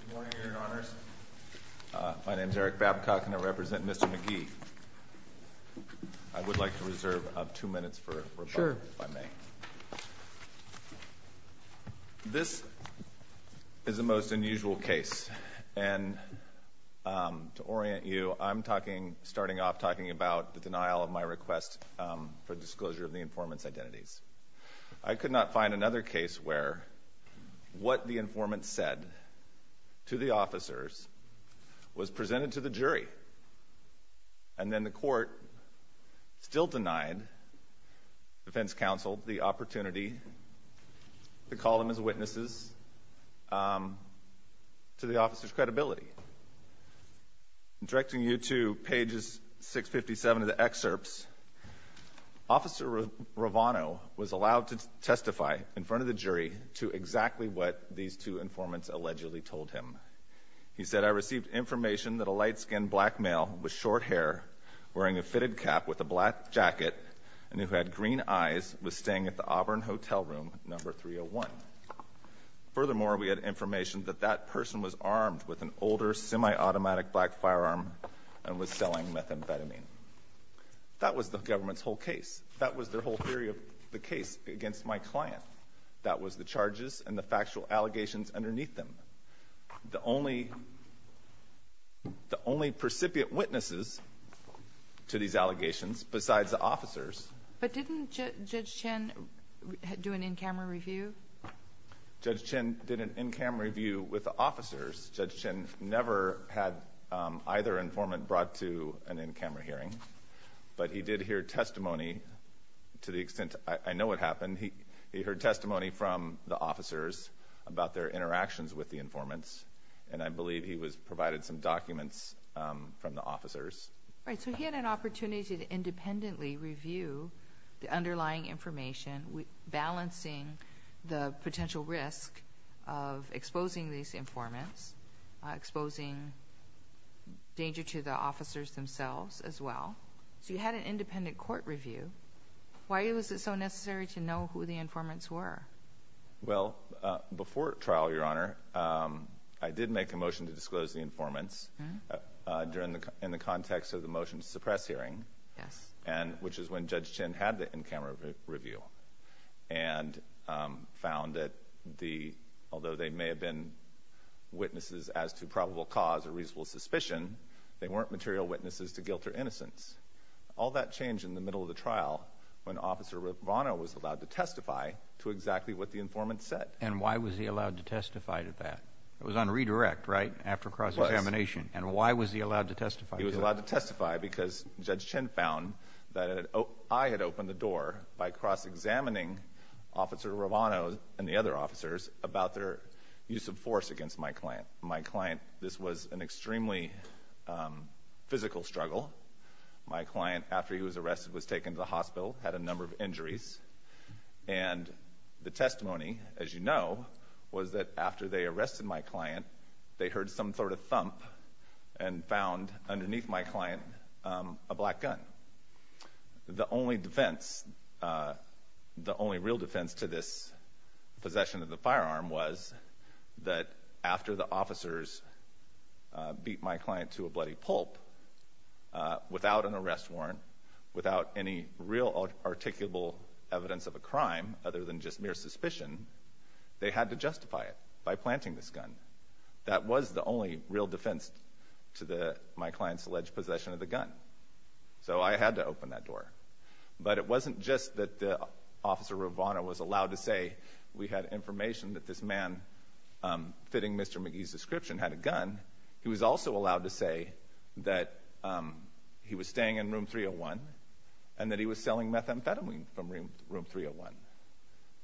Good morning, Your Honors. My name is Eric Babcock, and I represent Mr. McGee. I would like to reserve two minutes for rebuttal, if I may. This is a most unusual case, and to orient you, I'm starting off talking about the denial of my request for disclosure of the informant's identities. I could not find another case where what the informant said to the officers was presented to the jury, and then the court still denied the defense counsel the opportunity to call them as witnesses to the officer's credibility. Directing you to pages 657 of the excerpts, Officer Rovano was allowed to testify in front of the jury to exactly what these two informants allegedly told him. He said, I received information that a light-skinned black male with short hair, wearing a fitted cap with a black jacket, and who had green eyes, was staying at the Auburn Hotel Room No. 301. Furthermore, we had information that that person was armed with an older semi-automatic black firearm and was selling methamphetamine. That was the government's whole case. That was their whole theory of the case against my client. That was the charges and the factual allegations underneath them. The only, the only precipient witnesses to these allegations, besides the officers— But didn't Judge Chin do an in-camera review? Judge Chin did an in-camera review with the officers. Judge Chin never had either informant brought to an in-camera hearing. But he did hear testimony, to the extent I know what happened, he heard testimony from the officers about their interactions with the informants. And I believe he was provided some documents from the officers. Right. So he had an opportunity to independently review the underlying information, balancing the potential risk of exposing these informants, exposing danger to the officers, exposing the officers themselves, as well. So you had an independent court review. Why was it so necessary to know who the informants were? Well, before trial, Your Honor, I did make a motion to disclose the informants in the context of the motion to suppress hearing, which is when Judge Chin had the in-camera review and found that the, although they may have been witnesses as to probable cause or material witnesses to guilt or innocence, all that changed in the middle of the trial when Officer Rovano was allowed to testify to exactly what the informant said. And why was he allowed to testify to that? It was on redirect, right? After cross-examination. And why was he allowed to testify to that? He was allowed to testify because Judge Chin found that I had opened the door by cross-examining Officer Rovano and the other officers about their use of force against my client. This was an extremely physical struggle. My client, after he was arrested, was taken to the hospital, had a number of injuries. And the testimony, as you know, was that after they arrested my client, they heard some sort of thump and found underneath my client a black gun. The only defense, the only real defense to this possession of the firearm was that after the officers beat my client to a bloody pulp, without an arrest warrant, without any real articulable evidence of a crime other than just mere suspicion, they had to justify it by planting this gun. That was the only real defense to my client's alleged possession of the gun. So I had to open that door. But it wasn't just that Officer Rovano was allowed to say we had information that this McGee's description had a gun. He was also allowed to say that he was staying in Room 301 and that he was selling methamphetamine from Room 301.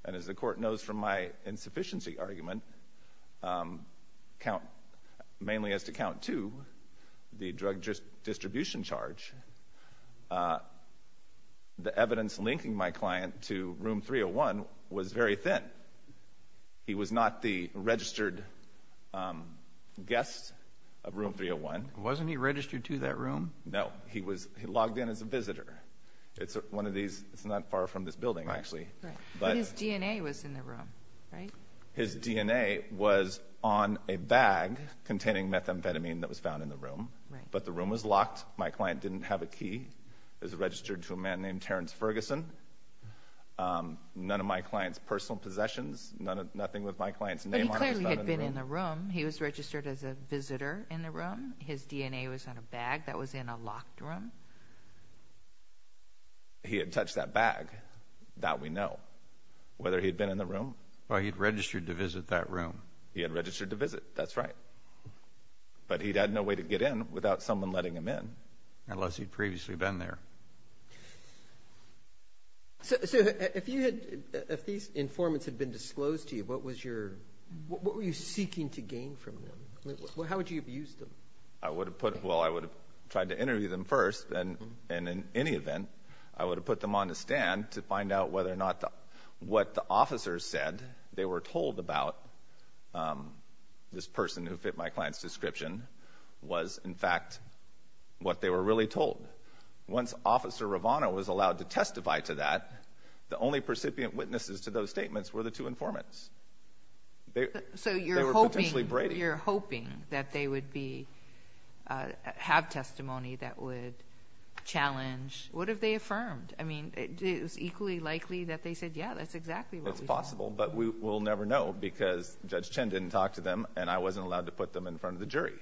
And as the Court knows from my insufficiency argument, mainly as to Count 2, the drug distribution charge, the evidence guessed Room 301. Wasn't he registered to that room? No. He logged in as a visitor. It's one of these, it's not far from this building, actually. Right. But his DNA was in the room, right? His DNA was on a bag containing methamphetamine that was found in the room. But the room was locked. My client didn't have a key. It was registered to a man named Terrence Ferguson. None of my client's personal possessions, nothing with my client's name on it was found in the room. He had been in the room. He was registered as a visitor in the room. His DNA was on a bag that was in a locked room. He had touched that bag. That we know. Whether he'd been in the room? Well, he'd registered to visit that room. He had registered to visit. That's right. But he had no way to get in without someone letting him in. Unless he'd previously been there. So, if these informants had been disclosed to you, what were you seeking to gain from them? How would you have used them? I would have tried to interview them first, and in any event, I would have put them on the stand to find out whether or not what the officers said they were told about this person who fit my client's description was, in fact, what they were really told. Once Officer Ravano was allowed to testify to that, the only percipient witnesses to those statements were the two informants. So you're hoping that they would have testimony that would challenge. What if they affirmed? I mean, it was equally likely that they said, yeah, that's exactly what we thought. It's possible, but we'll never know because Judge Chen didn't talk to them, and I wasn't allowed to put them in front of the jury.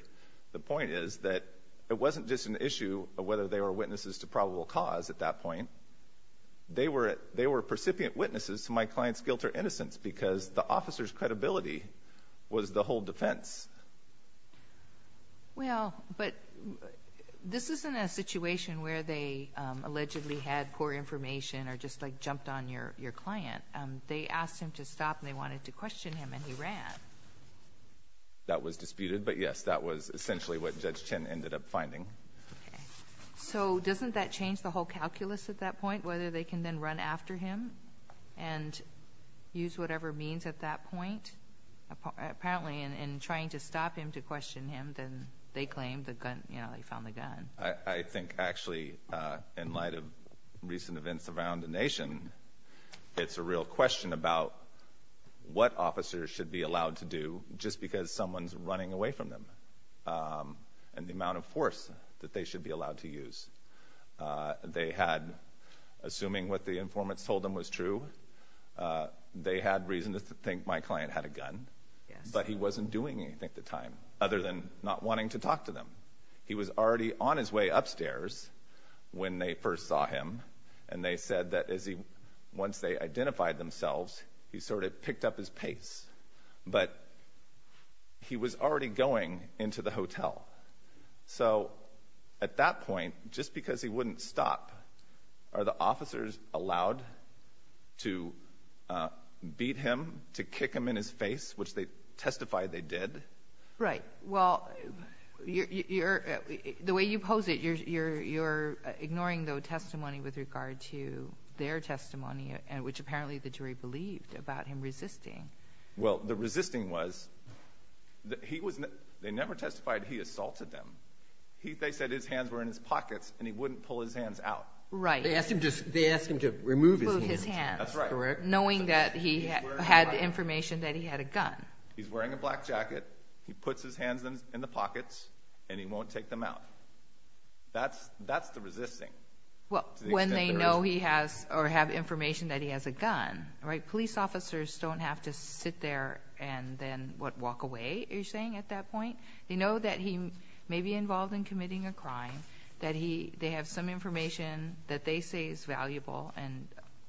The point is that it wasn't just an issue of whether they were witnesses to probable cause at that point. They were percipient witnesses to my client's guilt or innocence because the officer's credibility was the whole defense. Well, but this isn't a situation where they allegedly had poor information or just like jumped on your client. They asked him to stop and they wanted to question him, and he ran. That was disputed, but yes, that was essentially what Judge Chen ended up finding. So doesn't that change the whole calculus at that point, whether they can then run after him and use whatever means at that point? Apparently, in trying to stop him to question him, then they claimed the gun, you know, they found the gun. I think actually, in light of recent events around the nation, it's a real question about what officers should be allowed to do just because someone's running away from them and the amount of force that they should be allowed to use. They had, assuming what the informants told them was true, they had reason to think my client had a gun, but he wasn't doing anything at the time other than not wanting to talk to them. He was already on his way upstairs when they first saw him, and they said that once they identified themselves, he sort of picked up his pace, but he was already going into the hotel. So at that point, just because he wouldn't stop, are the officers allowed to beat him, to kick him in his face, which they testified they did? Right. Well, the way you pose it, you're ignoring the testimony with regard to their testimony, which apparently the jury believed about him resisting. Well, the resisting was, they never testified he assaulted them. They said his hands were in his pockets, and he wouldn't pull his hands out. Right. They asked him to remove his hands. That's right. Knowing that he had information that he had a gun. He's wearing a black jacket, he puts his hands in the pockets, and he won't take them out. That's the resisting. Well, when they know he has, or have information that he has a gun, right, police officers don't have to sit there and then, what, walk away, are you saying, at that point? They know that he may be involved in committing a crime, that he, they have some information that they say is valuable, and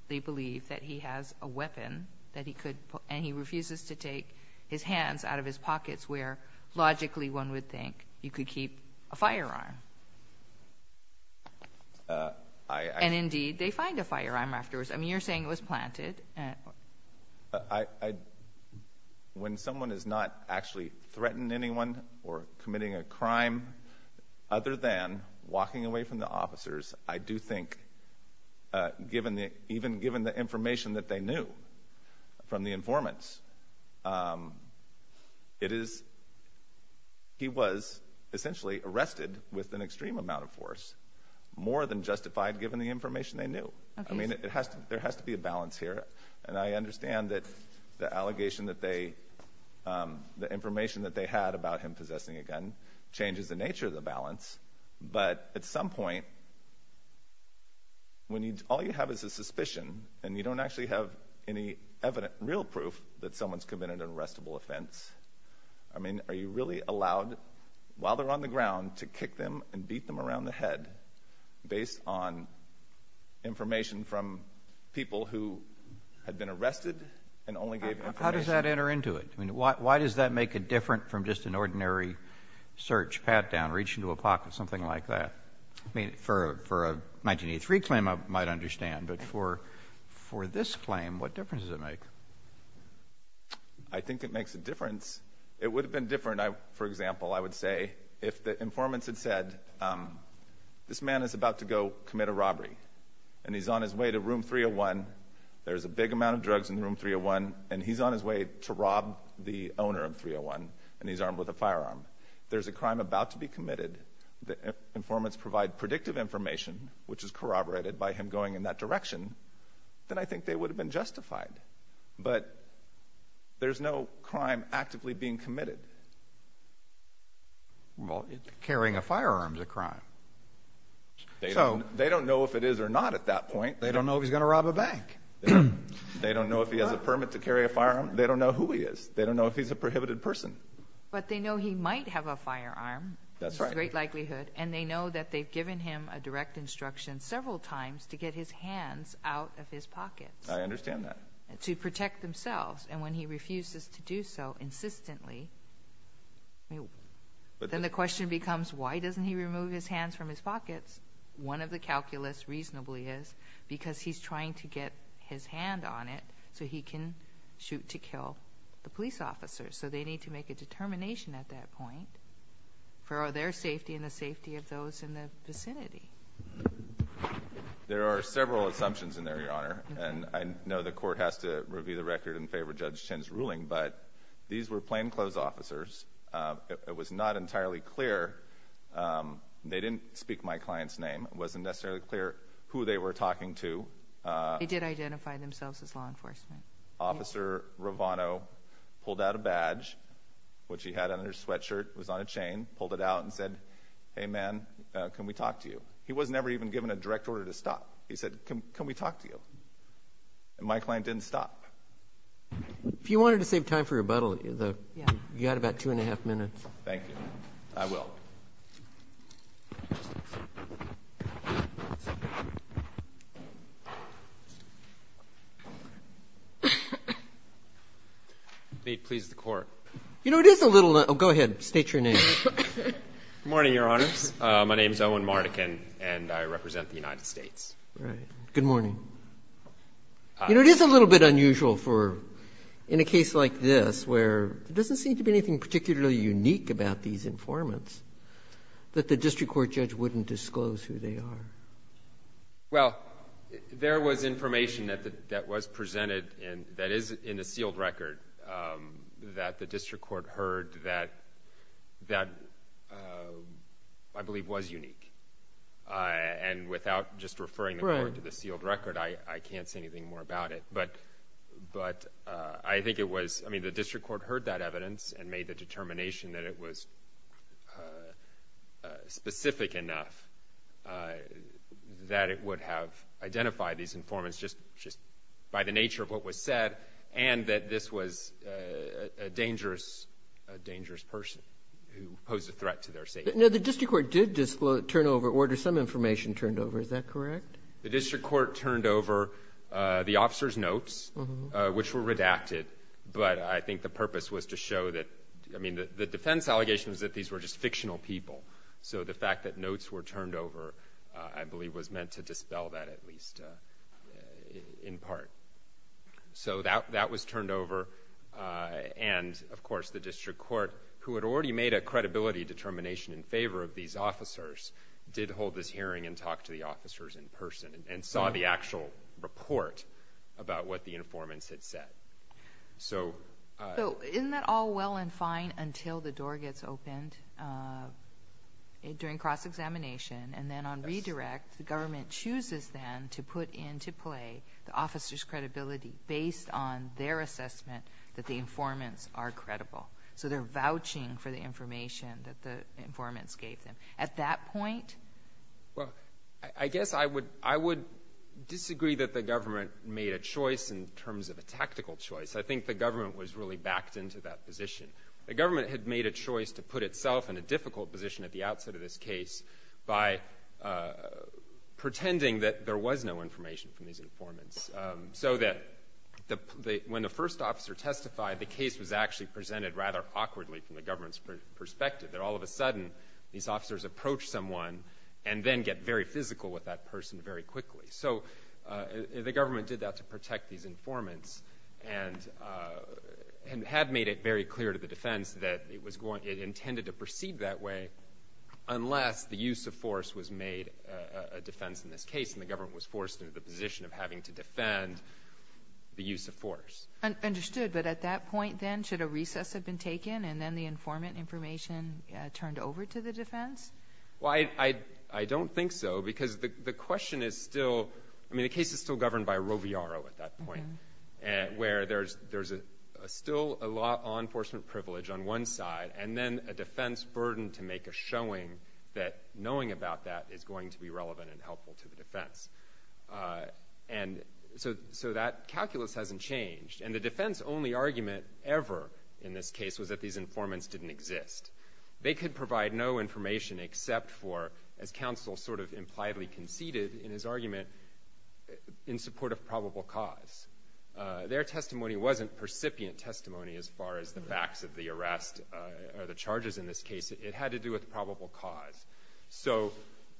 they believe that he has a weapon that he could, and he refuses to take his hands out of his pockets where, logically, one would think you could keep a firearm, and indeed, they find a firearm afterwards. I mean, you're saying it was planted. When someone has not actually threatened anyone or committing a crime other than walking away from the officers, I do think, even given the information that they knew from the informants, it is, he was essentially arrested with an extreme amount of force, more than justified given the information they knew. I mean, it has to, there has to be a balance here, and I understand that the allegation that they, the information that they had about him possessing a gun changes the nature of the balance, but at some point, when you, all you have is a suspicion, and you don't actually have any evident, real proof that someone's committed an arrestable offense, I mean, are you really allowed, while they're on the ground, to kick them and beat them around the head based on information from people who had been arrested and only gave information? How does that enter into it? I mean, why does that make it different from just an ordinary search, pat down, reach into a pocket, something like that? I mean, for a 1983 claim, I might understand, but for this claim, what difference does it make? I think it makes a difference. It would have been different, for example, I would say, if the informants had said, this man is about to go commit a robbery, and he's on his way to room 301, there's a big amount of drugs in room 301, and he's on his way to rob the owner of 301, and he's armed with a firearm. There's a crime about to be committed, the in that direction, then I think they would have been justified. But there's no crime actively being committed. Well, carrying a firearm's a crime. They don't know if it is or not at that point. They don't know if he's going to rob a bank. They don't know if he has a permit to carry a firearm. They don't know who he is. They don't know if he's a prohibited person. But they know he might have a firearm. That's right. There's a great likelihood, and they know that they've given him a direct instruction several times to get his hands out of his pockets. I understand that. To protect themselves. And when he refuses to do so insistently, then the question becomes, why doesn't he remove his hands from his pockets? One of the calculus reasonably is because he's trying to get his hand on it so he can shoot to kill the police officers. So they need to make a determination at that point for their safety and the safety of those in the vicinity. There are several assumptions in there, Your Honor. And I know the court has to review the record in favor of Judge Chin's ruling, but these were plainclothes officers. It was not entirely clear. They didn't speak my client's name. It wasn't necessarily clear who they were talking to. They did identify themselves as law enforcement. Officer Rovano pulled out a badge, which he had on his sweatshirt, was on a chain, pulled it out, and said, hey, man, can we talk to you? He was never even given a direct order to stop. He said, can we talk to you? And my client didn't stop. If you wanted to save time for rebuttal, you had about two and a half minutes. Thank you. I will. May it please the Court. You know, it is a little unusual for, in a case like this, where there doesn't seem to be anything particularly unique about these informants, that the district court judge wouldn't disclose who they are. Well, there was information that was presented that is in the sealed record that the district court heard that I believe was unique. And without just referring the court to the sealed record, I can't say anything more about it. But I think it was, I mean, the district court heard that evidence and made the determination that it was specific enough that it would have identified these informants just by the nature of what was said, and that this was a dangerous person who posed a threat to their safety. Now, the district court did turn over, order some information turned over. Is that correct? The district court turned over the officer's notes, which were redacted. But I think the purpose was to show that, I mean, the defense allegation was that these were just fictional people. So the fact that notes were turned over, I believe, was meant to dispel that at least in part. So that was turned over. And, of course, the district court, who had already made a credibility determination in favor of these officers, did hold this hearing and talked to the officers in person and saw the actual report about what the informants had said. So isn't that all well and fine until the door gets opened during cross-examination, and then on redirect, the government chooses then to put into play the officer's credibility based on their assessment that the informants are credible. So they're vouching for the information that the informants gave them. At that point? Well, I guess I would disagree that the government made a choice in terms of a tactical choice. I think the government was really backed into that position. The government had made a choice to put itself in a difficult position at the outset of this case by pretending that there was no information from these informants. So that when the first officer testified, the case was actually presented rather awkwardly from the government's perspective. That all of a sudden, these officers approach someone and then get very physical with that person very quickly. So the government did that to protect these informants, and had made it very clear to the defense that it intended to proceed that way unless the use of force was made a defense in this case. And the government was forced into the position of having to defend the use of force. Understood. But at that point, then, should a recess have been taken, and then the informant information turned over to the defense? I don't think so, because the question is still... I mean, the case is still governed by Roviaro at that point, where there's still a law enforcement privilege on one side, and then a defense burden to make a showing that knowing about that is going to be relevant and helpful to the defense. So that calculus hasn't changed. And the defense-only argument ever in this case was that these informants didn't exist. They could provide no information except for, as counsel sort of impliedly conceded in his argument, in support of probable cause. Their testimony wasn't percipient testimony as far as the facts of the arrest or the charges in this case. It had to do with probable cause. So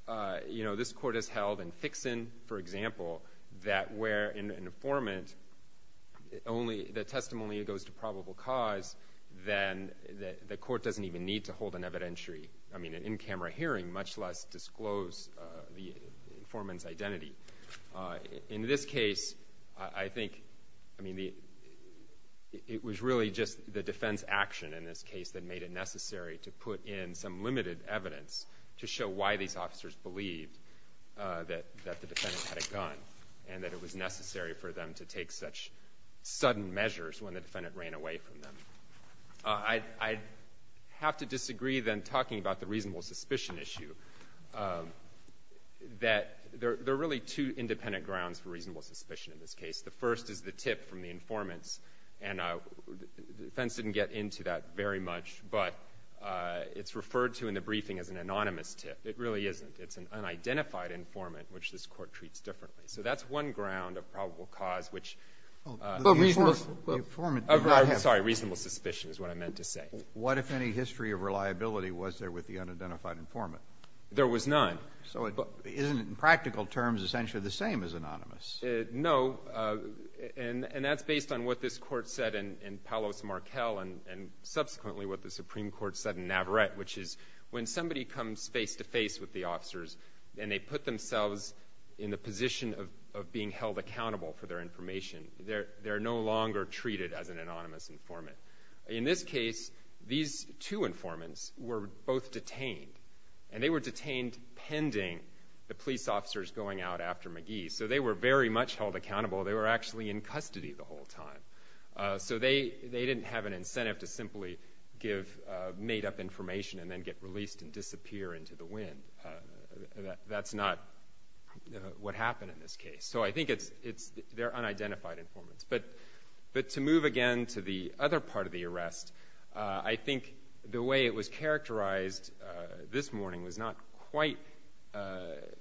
this court has held in Fixin, for example, that where an informant, only the testimony goes to probable cause, then the court doesn't even need to hold an evidentiary, I mean, an in-camera hearing, much less disclose the informant's identity. In this case, I think, I mean, it was really just the defense action in this case that made it necessary to put in some limited evidence to show why these things happened, and that it was necessary for them to take such sudden measures when the defendant ran away from them. I'd have to disagree, then, talking about the reasonable suspicion issue, that there are really two independent grounds for reasonable suspicion in this case. The first is the tip from the informants, and the defense didn't get into that very much, but it's referred to in the briefing as an anonymous tip. It really isn't. It's an unidentified informant, which this court treats differently. So that's one ground of probable cause, which the informant did not have to do with the unidentified informant. Sorry, reasonable suspicion is what I meant to say. What if any history of reliability was there with the unidentified informant? There was none. So isn't it, in practical terms, essentially the same as anonymous? No. And that's based on what this court said in Palos Marquel, and subsequently what the and they put themselves in the position of being held accountable for their information. They're no longer treated as an anonymous informant. In this case, these two informants were both detained, and they were detained pending the police officers going out after McGee. So they were very much held accountable. They were actually in custody the whole time. So they didn't have an incentive to simply give made-up information and then get released and disappear into the wind. That's not what happened in this case. So I think they're unidentified informants. But to move again to the other part of the arrest, I think the way it was characterized this morning was not quite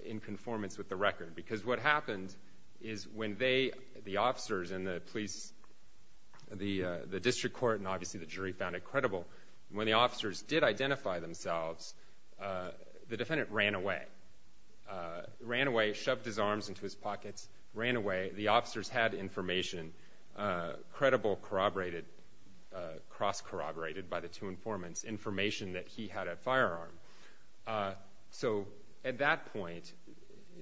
in conformance with the record. Because what happened is when they, the officers and the police, the defendant ran away. Ran away, shoved his arms into his pockets, ran away. The officers had information, credible, corroborated, cross-corroborated by the two informants, information that he had a firearm. So at that point,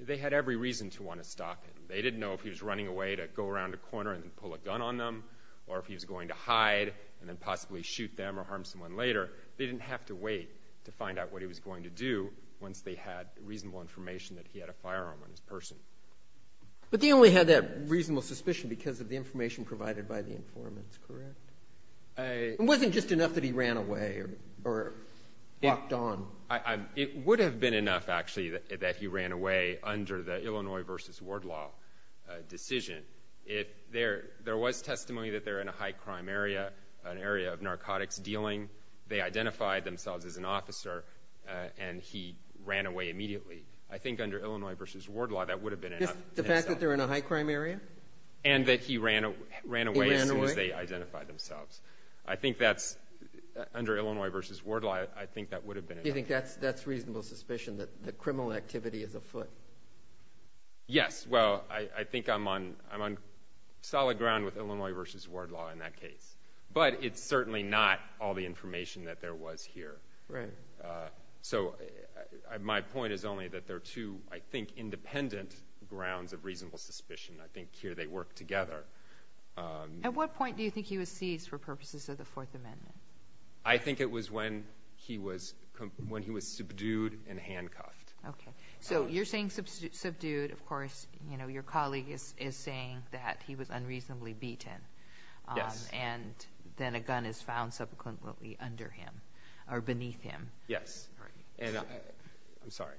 they had every reason to want to stop him. They didn't know if he was running away to go around a corner and pull a gun on them, or if he was going to hide and then possibly shoot them or harm someone later. They didn't have to wait to find out what he was going to do once they had reasonable information that he had a firearm on his person. But they only had that reasonable suspicion because of the information provided by the informants, correct? It wasn't just enough that he ran away or walked on. It would have been enough, actually, that he ran away under the Illinois versus Ward Law decision. There was testimony that they were in a high-crime area, an area of narcotics dealing. They identified themselves as an officer, and he ran away immediately. I think under Illinois versus Ward Law, that would have been enough. The fact that they're in a high-crime area? And that he ran away as soon as they identified themselves. I think that's, under Illinois versus Ward Law, I think that would have been enough. You think that's reasonable suspicion, that criminal activity is afoot? Yes. Well, I think I'm on solid ground with Illinois versus Ward Law in that case. But it's certainly not all the information that there was here. So my point is only that there are two, I think, independent grounds of reasonable suspicion. I think here they work together. At what point do you think he was seized for purposes of the Fourth Amendment? I think it was when he was subdued and handcuffed. So you're saying subdued. Of course, your colleague is saying that he was unreasonably beaten. And then a gun is found subsequently under him, or beneath him. Yes. I'm sorry.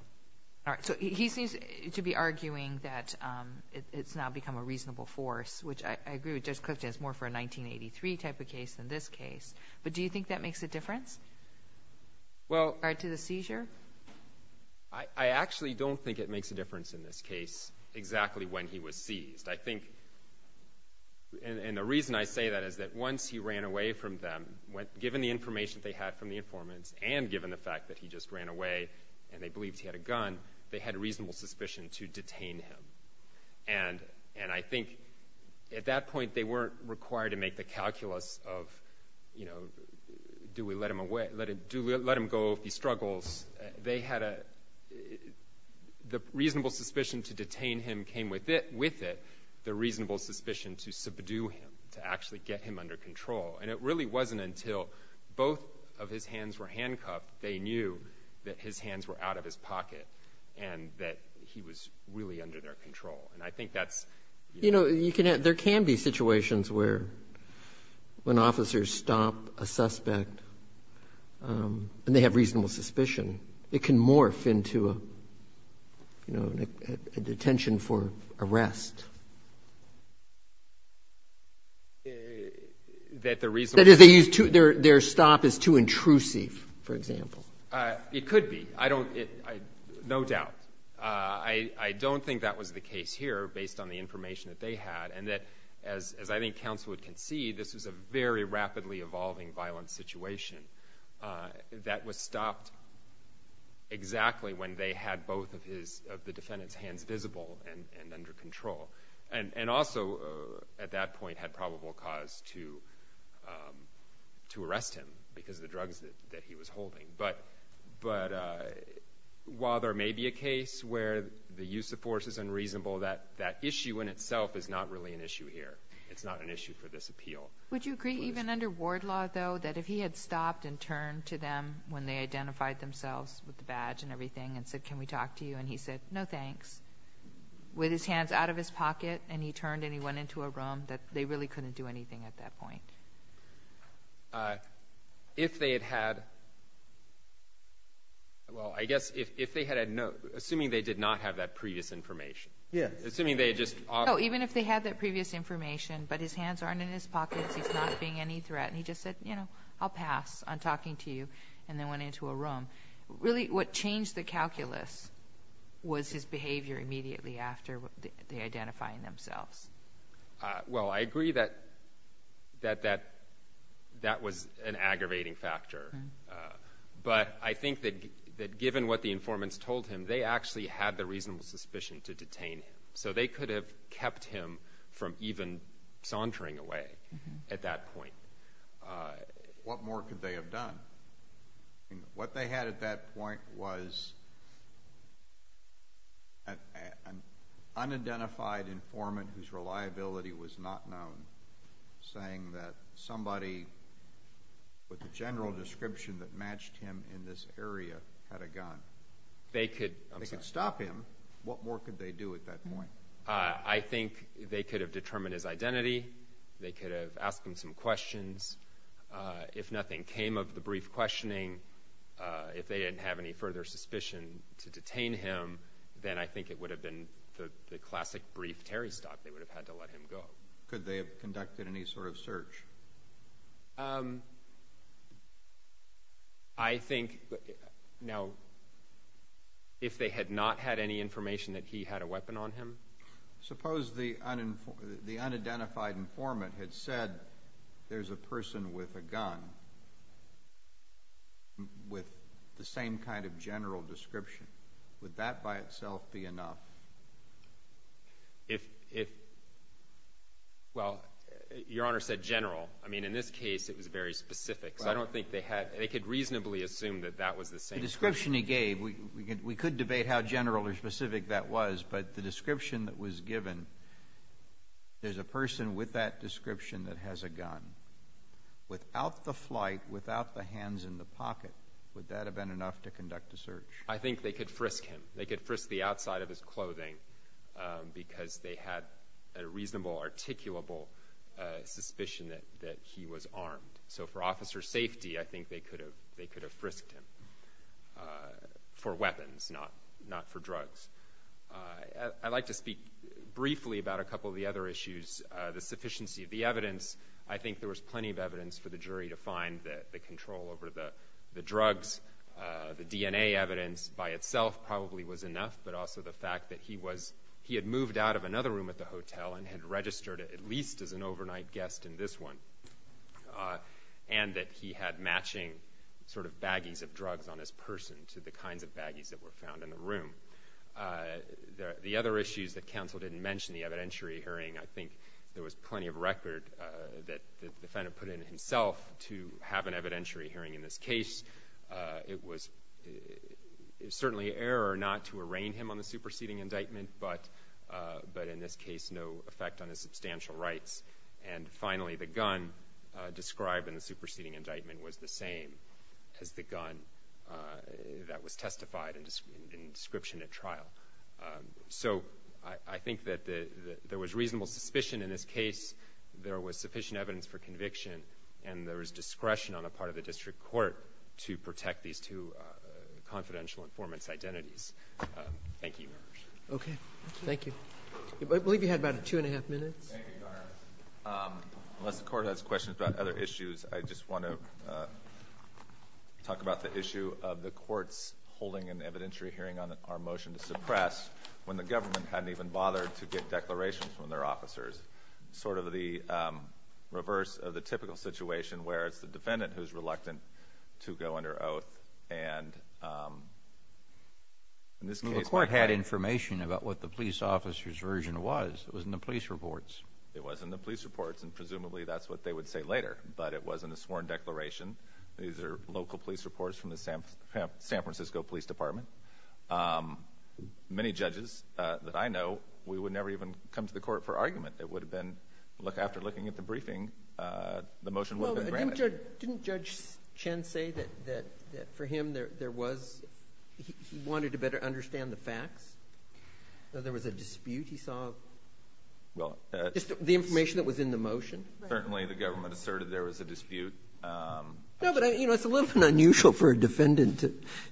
All right. So he seems to be arguing that it's now become a reasonable force, which I agree with Judge Clifton, it's more for a 1983 type of case than this case. But do you think that makes a difference to the seizure? I actually don't think it makes a difference in this case, exactly when he was seized. I think, and the reason I say that is that once he ran away from them, given the information they had from the informants, and given the fact that he just ran away, and they believed he had a gun, they had reasonable suspicion to detain him. And I think at that point, they weren't required to make the calculus of, you know, do we let him go if he struggles? They had a, the reasonable suspicion to detain him came with it, the reasonable suspicion to subdue him, to actually get him under control. And it really wasn't until both of his hands were handcuffed, they knew that his hands were out of his pocket, and that he was really under their control. And I think that's, you know. There can be situations where, when officers stop a suspect, and they have reasonable suspicion it can morph into a, you know, a detention for arrest. That the reasonable suspicion... That is, they use too, their stop is too intrusive, for example. It could be. I don't, no doubt. I don't think that was the case here, based on the information that they had, and that, as I think counsel would concede, this was a very rapidly evolving violent situation, that was stopped exactly when they had both of his, of the defendant's hands visible and under control. And also, at that point, had probable cause to arrest him, because of the drugs that he was holding. But, while there may be a case where the use of force is unreasonable, that issue in itself is not really an issue here. It's not an issue for this appeal. Would you agree, even under ward law, though, that if he had stopped and turned to them when they identified themselves with the badge and everything, and said, can we talk to you, and he said, no thanks, with his hands out of his pocket, and he turned and he went into a room, that they really couldn't do anything at that point? If they had had... Well, I guess, if they had had no... Assuming they did not have that previous information. Yes. Assuming they had just... Even if they had that previous information, but his hands aren't in his pocket, he's not being any threat, and he just said, you know, I'll pass on talking to you, and then went into a room. Really, what changed the calculus was his behavior immediately after they identified themselves. Well, I agree that that was an aggravating factor. But, I think that given what the informants told him, they actually had the reasonable suspicion to detain him. So, they could have kept him from even sauntering away at that point. What more could they have done? What they had at that point was an unidentified informant whose reliability was not known, saying that somebody with the general description that they could... They could stop him. What more could they do at that point? I think they could have determined his identity. They could have asked him some questions. If nothing came of the brief questioning, if they didn't have any further suspicion to detain him, then I think it would have been the classic brief Terry stop. They would have had to let him go. Could they have conducted any sort of search? I think, now, if they had not had any information that he had a weapon on him... Suppose the unidentified informant had said, there's a person with a gun, with the same kind of general description. Would that by itself be enough? Well, Your Honor said general. I mean, in this case, it was very specific. So, I don't think they had... They could reasonably assume that that was the same person. The description he gave, we could debate how general or specific that was, but the description that was given, there's a person with that description that has a gun. Without the flight, without the hands in the pocket, would that have been enough to conduct a search? I think they could frisk him. They could frisk the outside of his clothing, because they had a reasonable, articulable suspicion that he was armed. So, for officer safety, I think they could have frisked him for weapons, not for drugs. I'd like to speak briefly about a couple of the other issues. The sufficiency of the evidence, I think there was plenty of evidence for the jury to find that the control over the drugs, the DNA evidence by itself probably was enough, but also the fact that he had moved out of another room at the hotel and had registered at least as an overnight guest in this one, and that he had matching sort of baggies of drugs on his person to the kinds of baggies that were found in the room. The other issues that counsel didn't mention, the evidentiary hearing, I think there was plenty of record that the defendant put in himself to have an evidentiary hearing in this case. It was certainly an error not to arraign him on the superseding indictment, but in this case, no effect on his substantial rights. And finally, the gun described in the superseding indictment was the same as the gun that was testified in description at trial. So I think that there was reasonable suspicion in this case. There was sufficient evidence for conviction, and there was discretion on the part of the district court to protect these two confidential informants' identities. Thank you, Your Honor. Okay. Thank you. I believe you had about two and a half minutes. Thank you, Your Honor. Unless the Court has questions about other issues, I just want to talk about the issue of the courts holding an evidentiary hearing on our motion to suppress when the government hadn't even bothered to get declarations from their officers, sort of the reverse of the typical situation where it's the defendant who is reluctant to go under oath. And in this case, the Court had information about what the police officer's version was. It was in the police reports. It was in the police reports, and presumably that's what they would say later. But it wasn't a sworn declaration. These are local police reports from the San Francisco Police Department. Many judges that I know, we would never even come to the Court for argument. It would have been, look, after looking at the briefing, the motion would have been granted. Well, didn't Judge Chen say that for him there was, he wanted to better understand the facts? That there was a dispute? He saw just the information that was in the motion? Certainly, the government asserted there was a dispute. No, but it's a little bit unusual for a defendant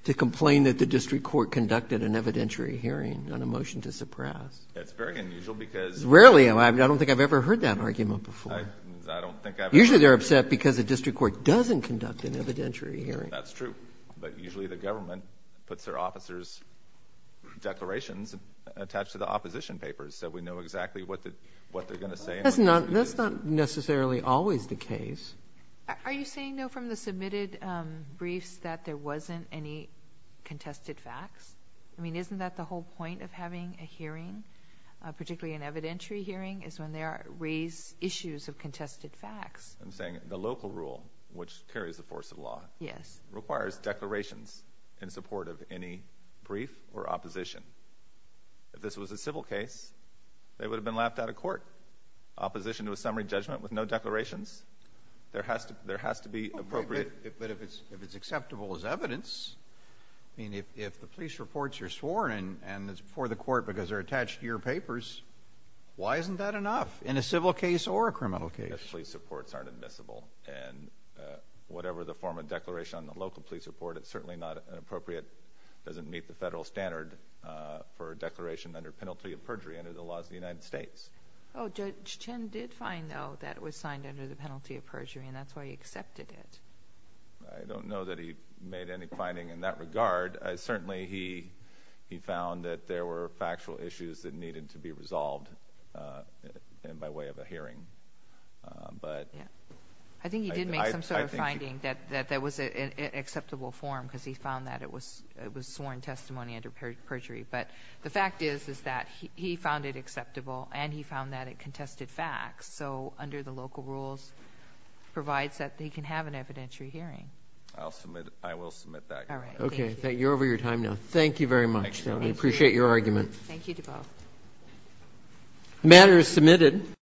to complain that the district court conducted an evidentiary hearing on a motion to suppress. It's very unusual because Rarely. I don't think I've ever heard that argument before. I don't think I've ever heard it. Usually they're upset because the district court doesn't conduct an evidentiary hearing. That's true. But usually the government puts their officer's declarations attached to the opposition papers so we know exactly what they're going to say and what they're going to do. That's not necessarily always the case. Are you saying, though, from the submitted briefs that there wasn't any contested facts? I mean, isn't that the whole point of having a hearing, particularly an evidentiary hearing, is when there are raised issues of contested facts? I'm saying the local rule, which carries the force of law, requires declarations in support of any brief or opposition. If this was a civil case, they would have been laughed out of court. Opposition to a summary judgment with no declarations, there has to be appropriate But if it's acceptable as evidence, I mean, if the police reports are sworn and it's before the court because they're attached to your papers, why isn't that enough in a civil case or a criminal case? Police reports aren't admissible. And whatever the form of declaration on the local police report, it's certainly not appropriate. It doesn't meet the federal standard for a declaration under penalty of perjury under the laws of the United States. Oh, Judge Chin did find, though, that it was signed under the penalty of perjury, and that's why he accepted it. I don't know that he made any finding in that regard. Certainly, he found that there were factual issues that needed to be resolved by way of a hearing. I think he did make some sort of finding that that was an acceptable form because he found that it was sworn testimony under perjury. But the fact is that he found it acceptable and he found that it contested facts. So under the local rules, it provides that he can have an evidentiary hearing. I will submit that. All right. Thank you. Okay. You're over your time now. Thank you very much. I appreciate your argument. Thank you to both. The matter is submitted.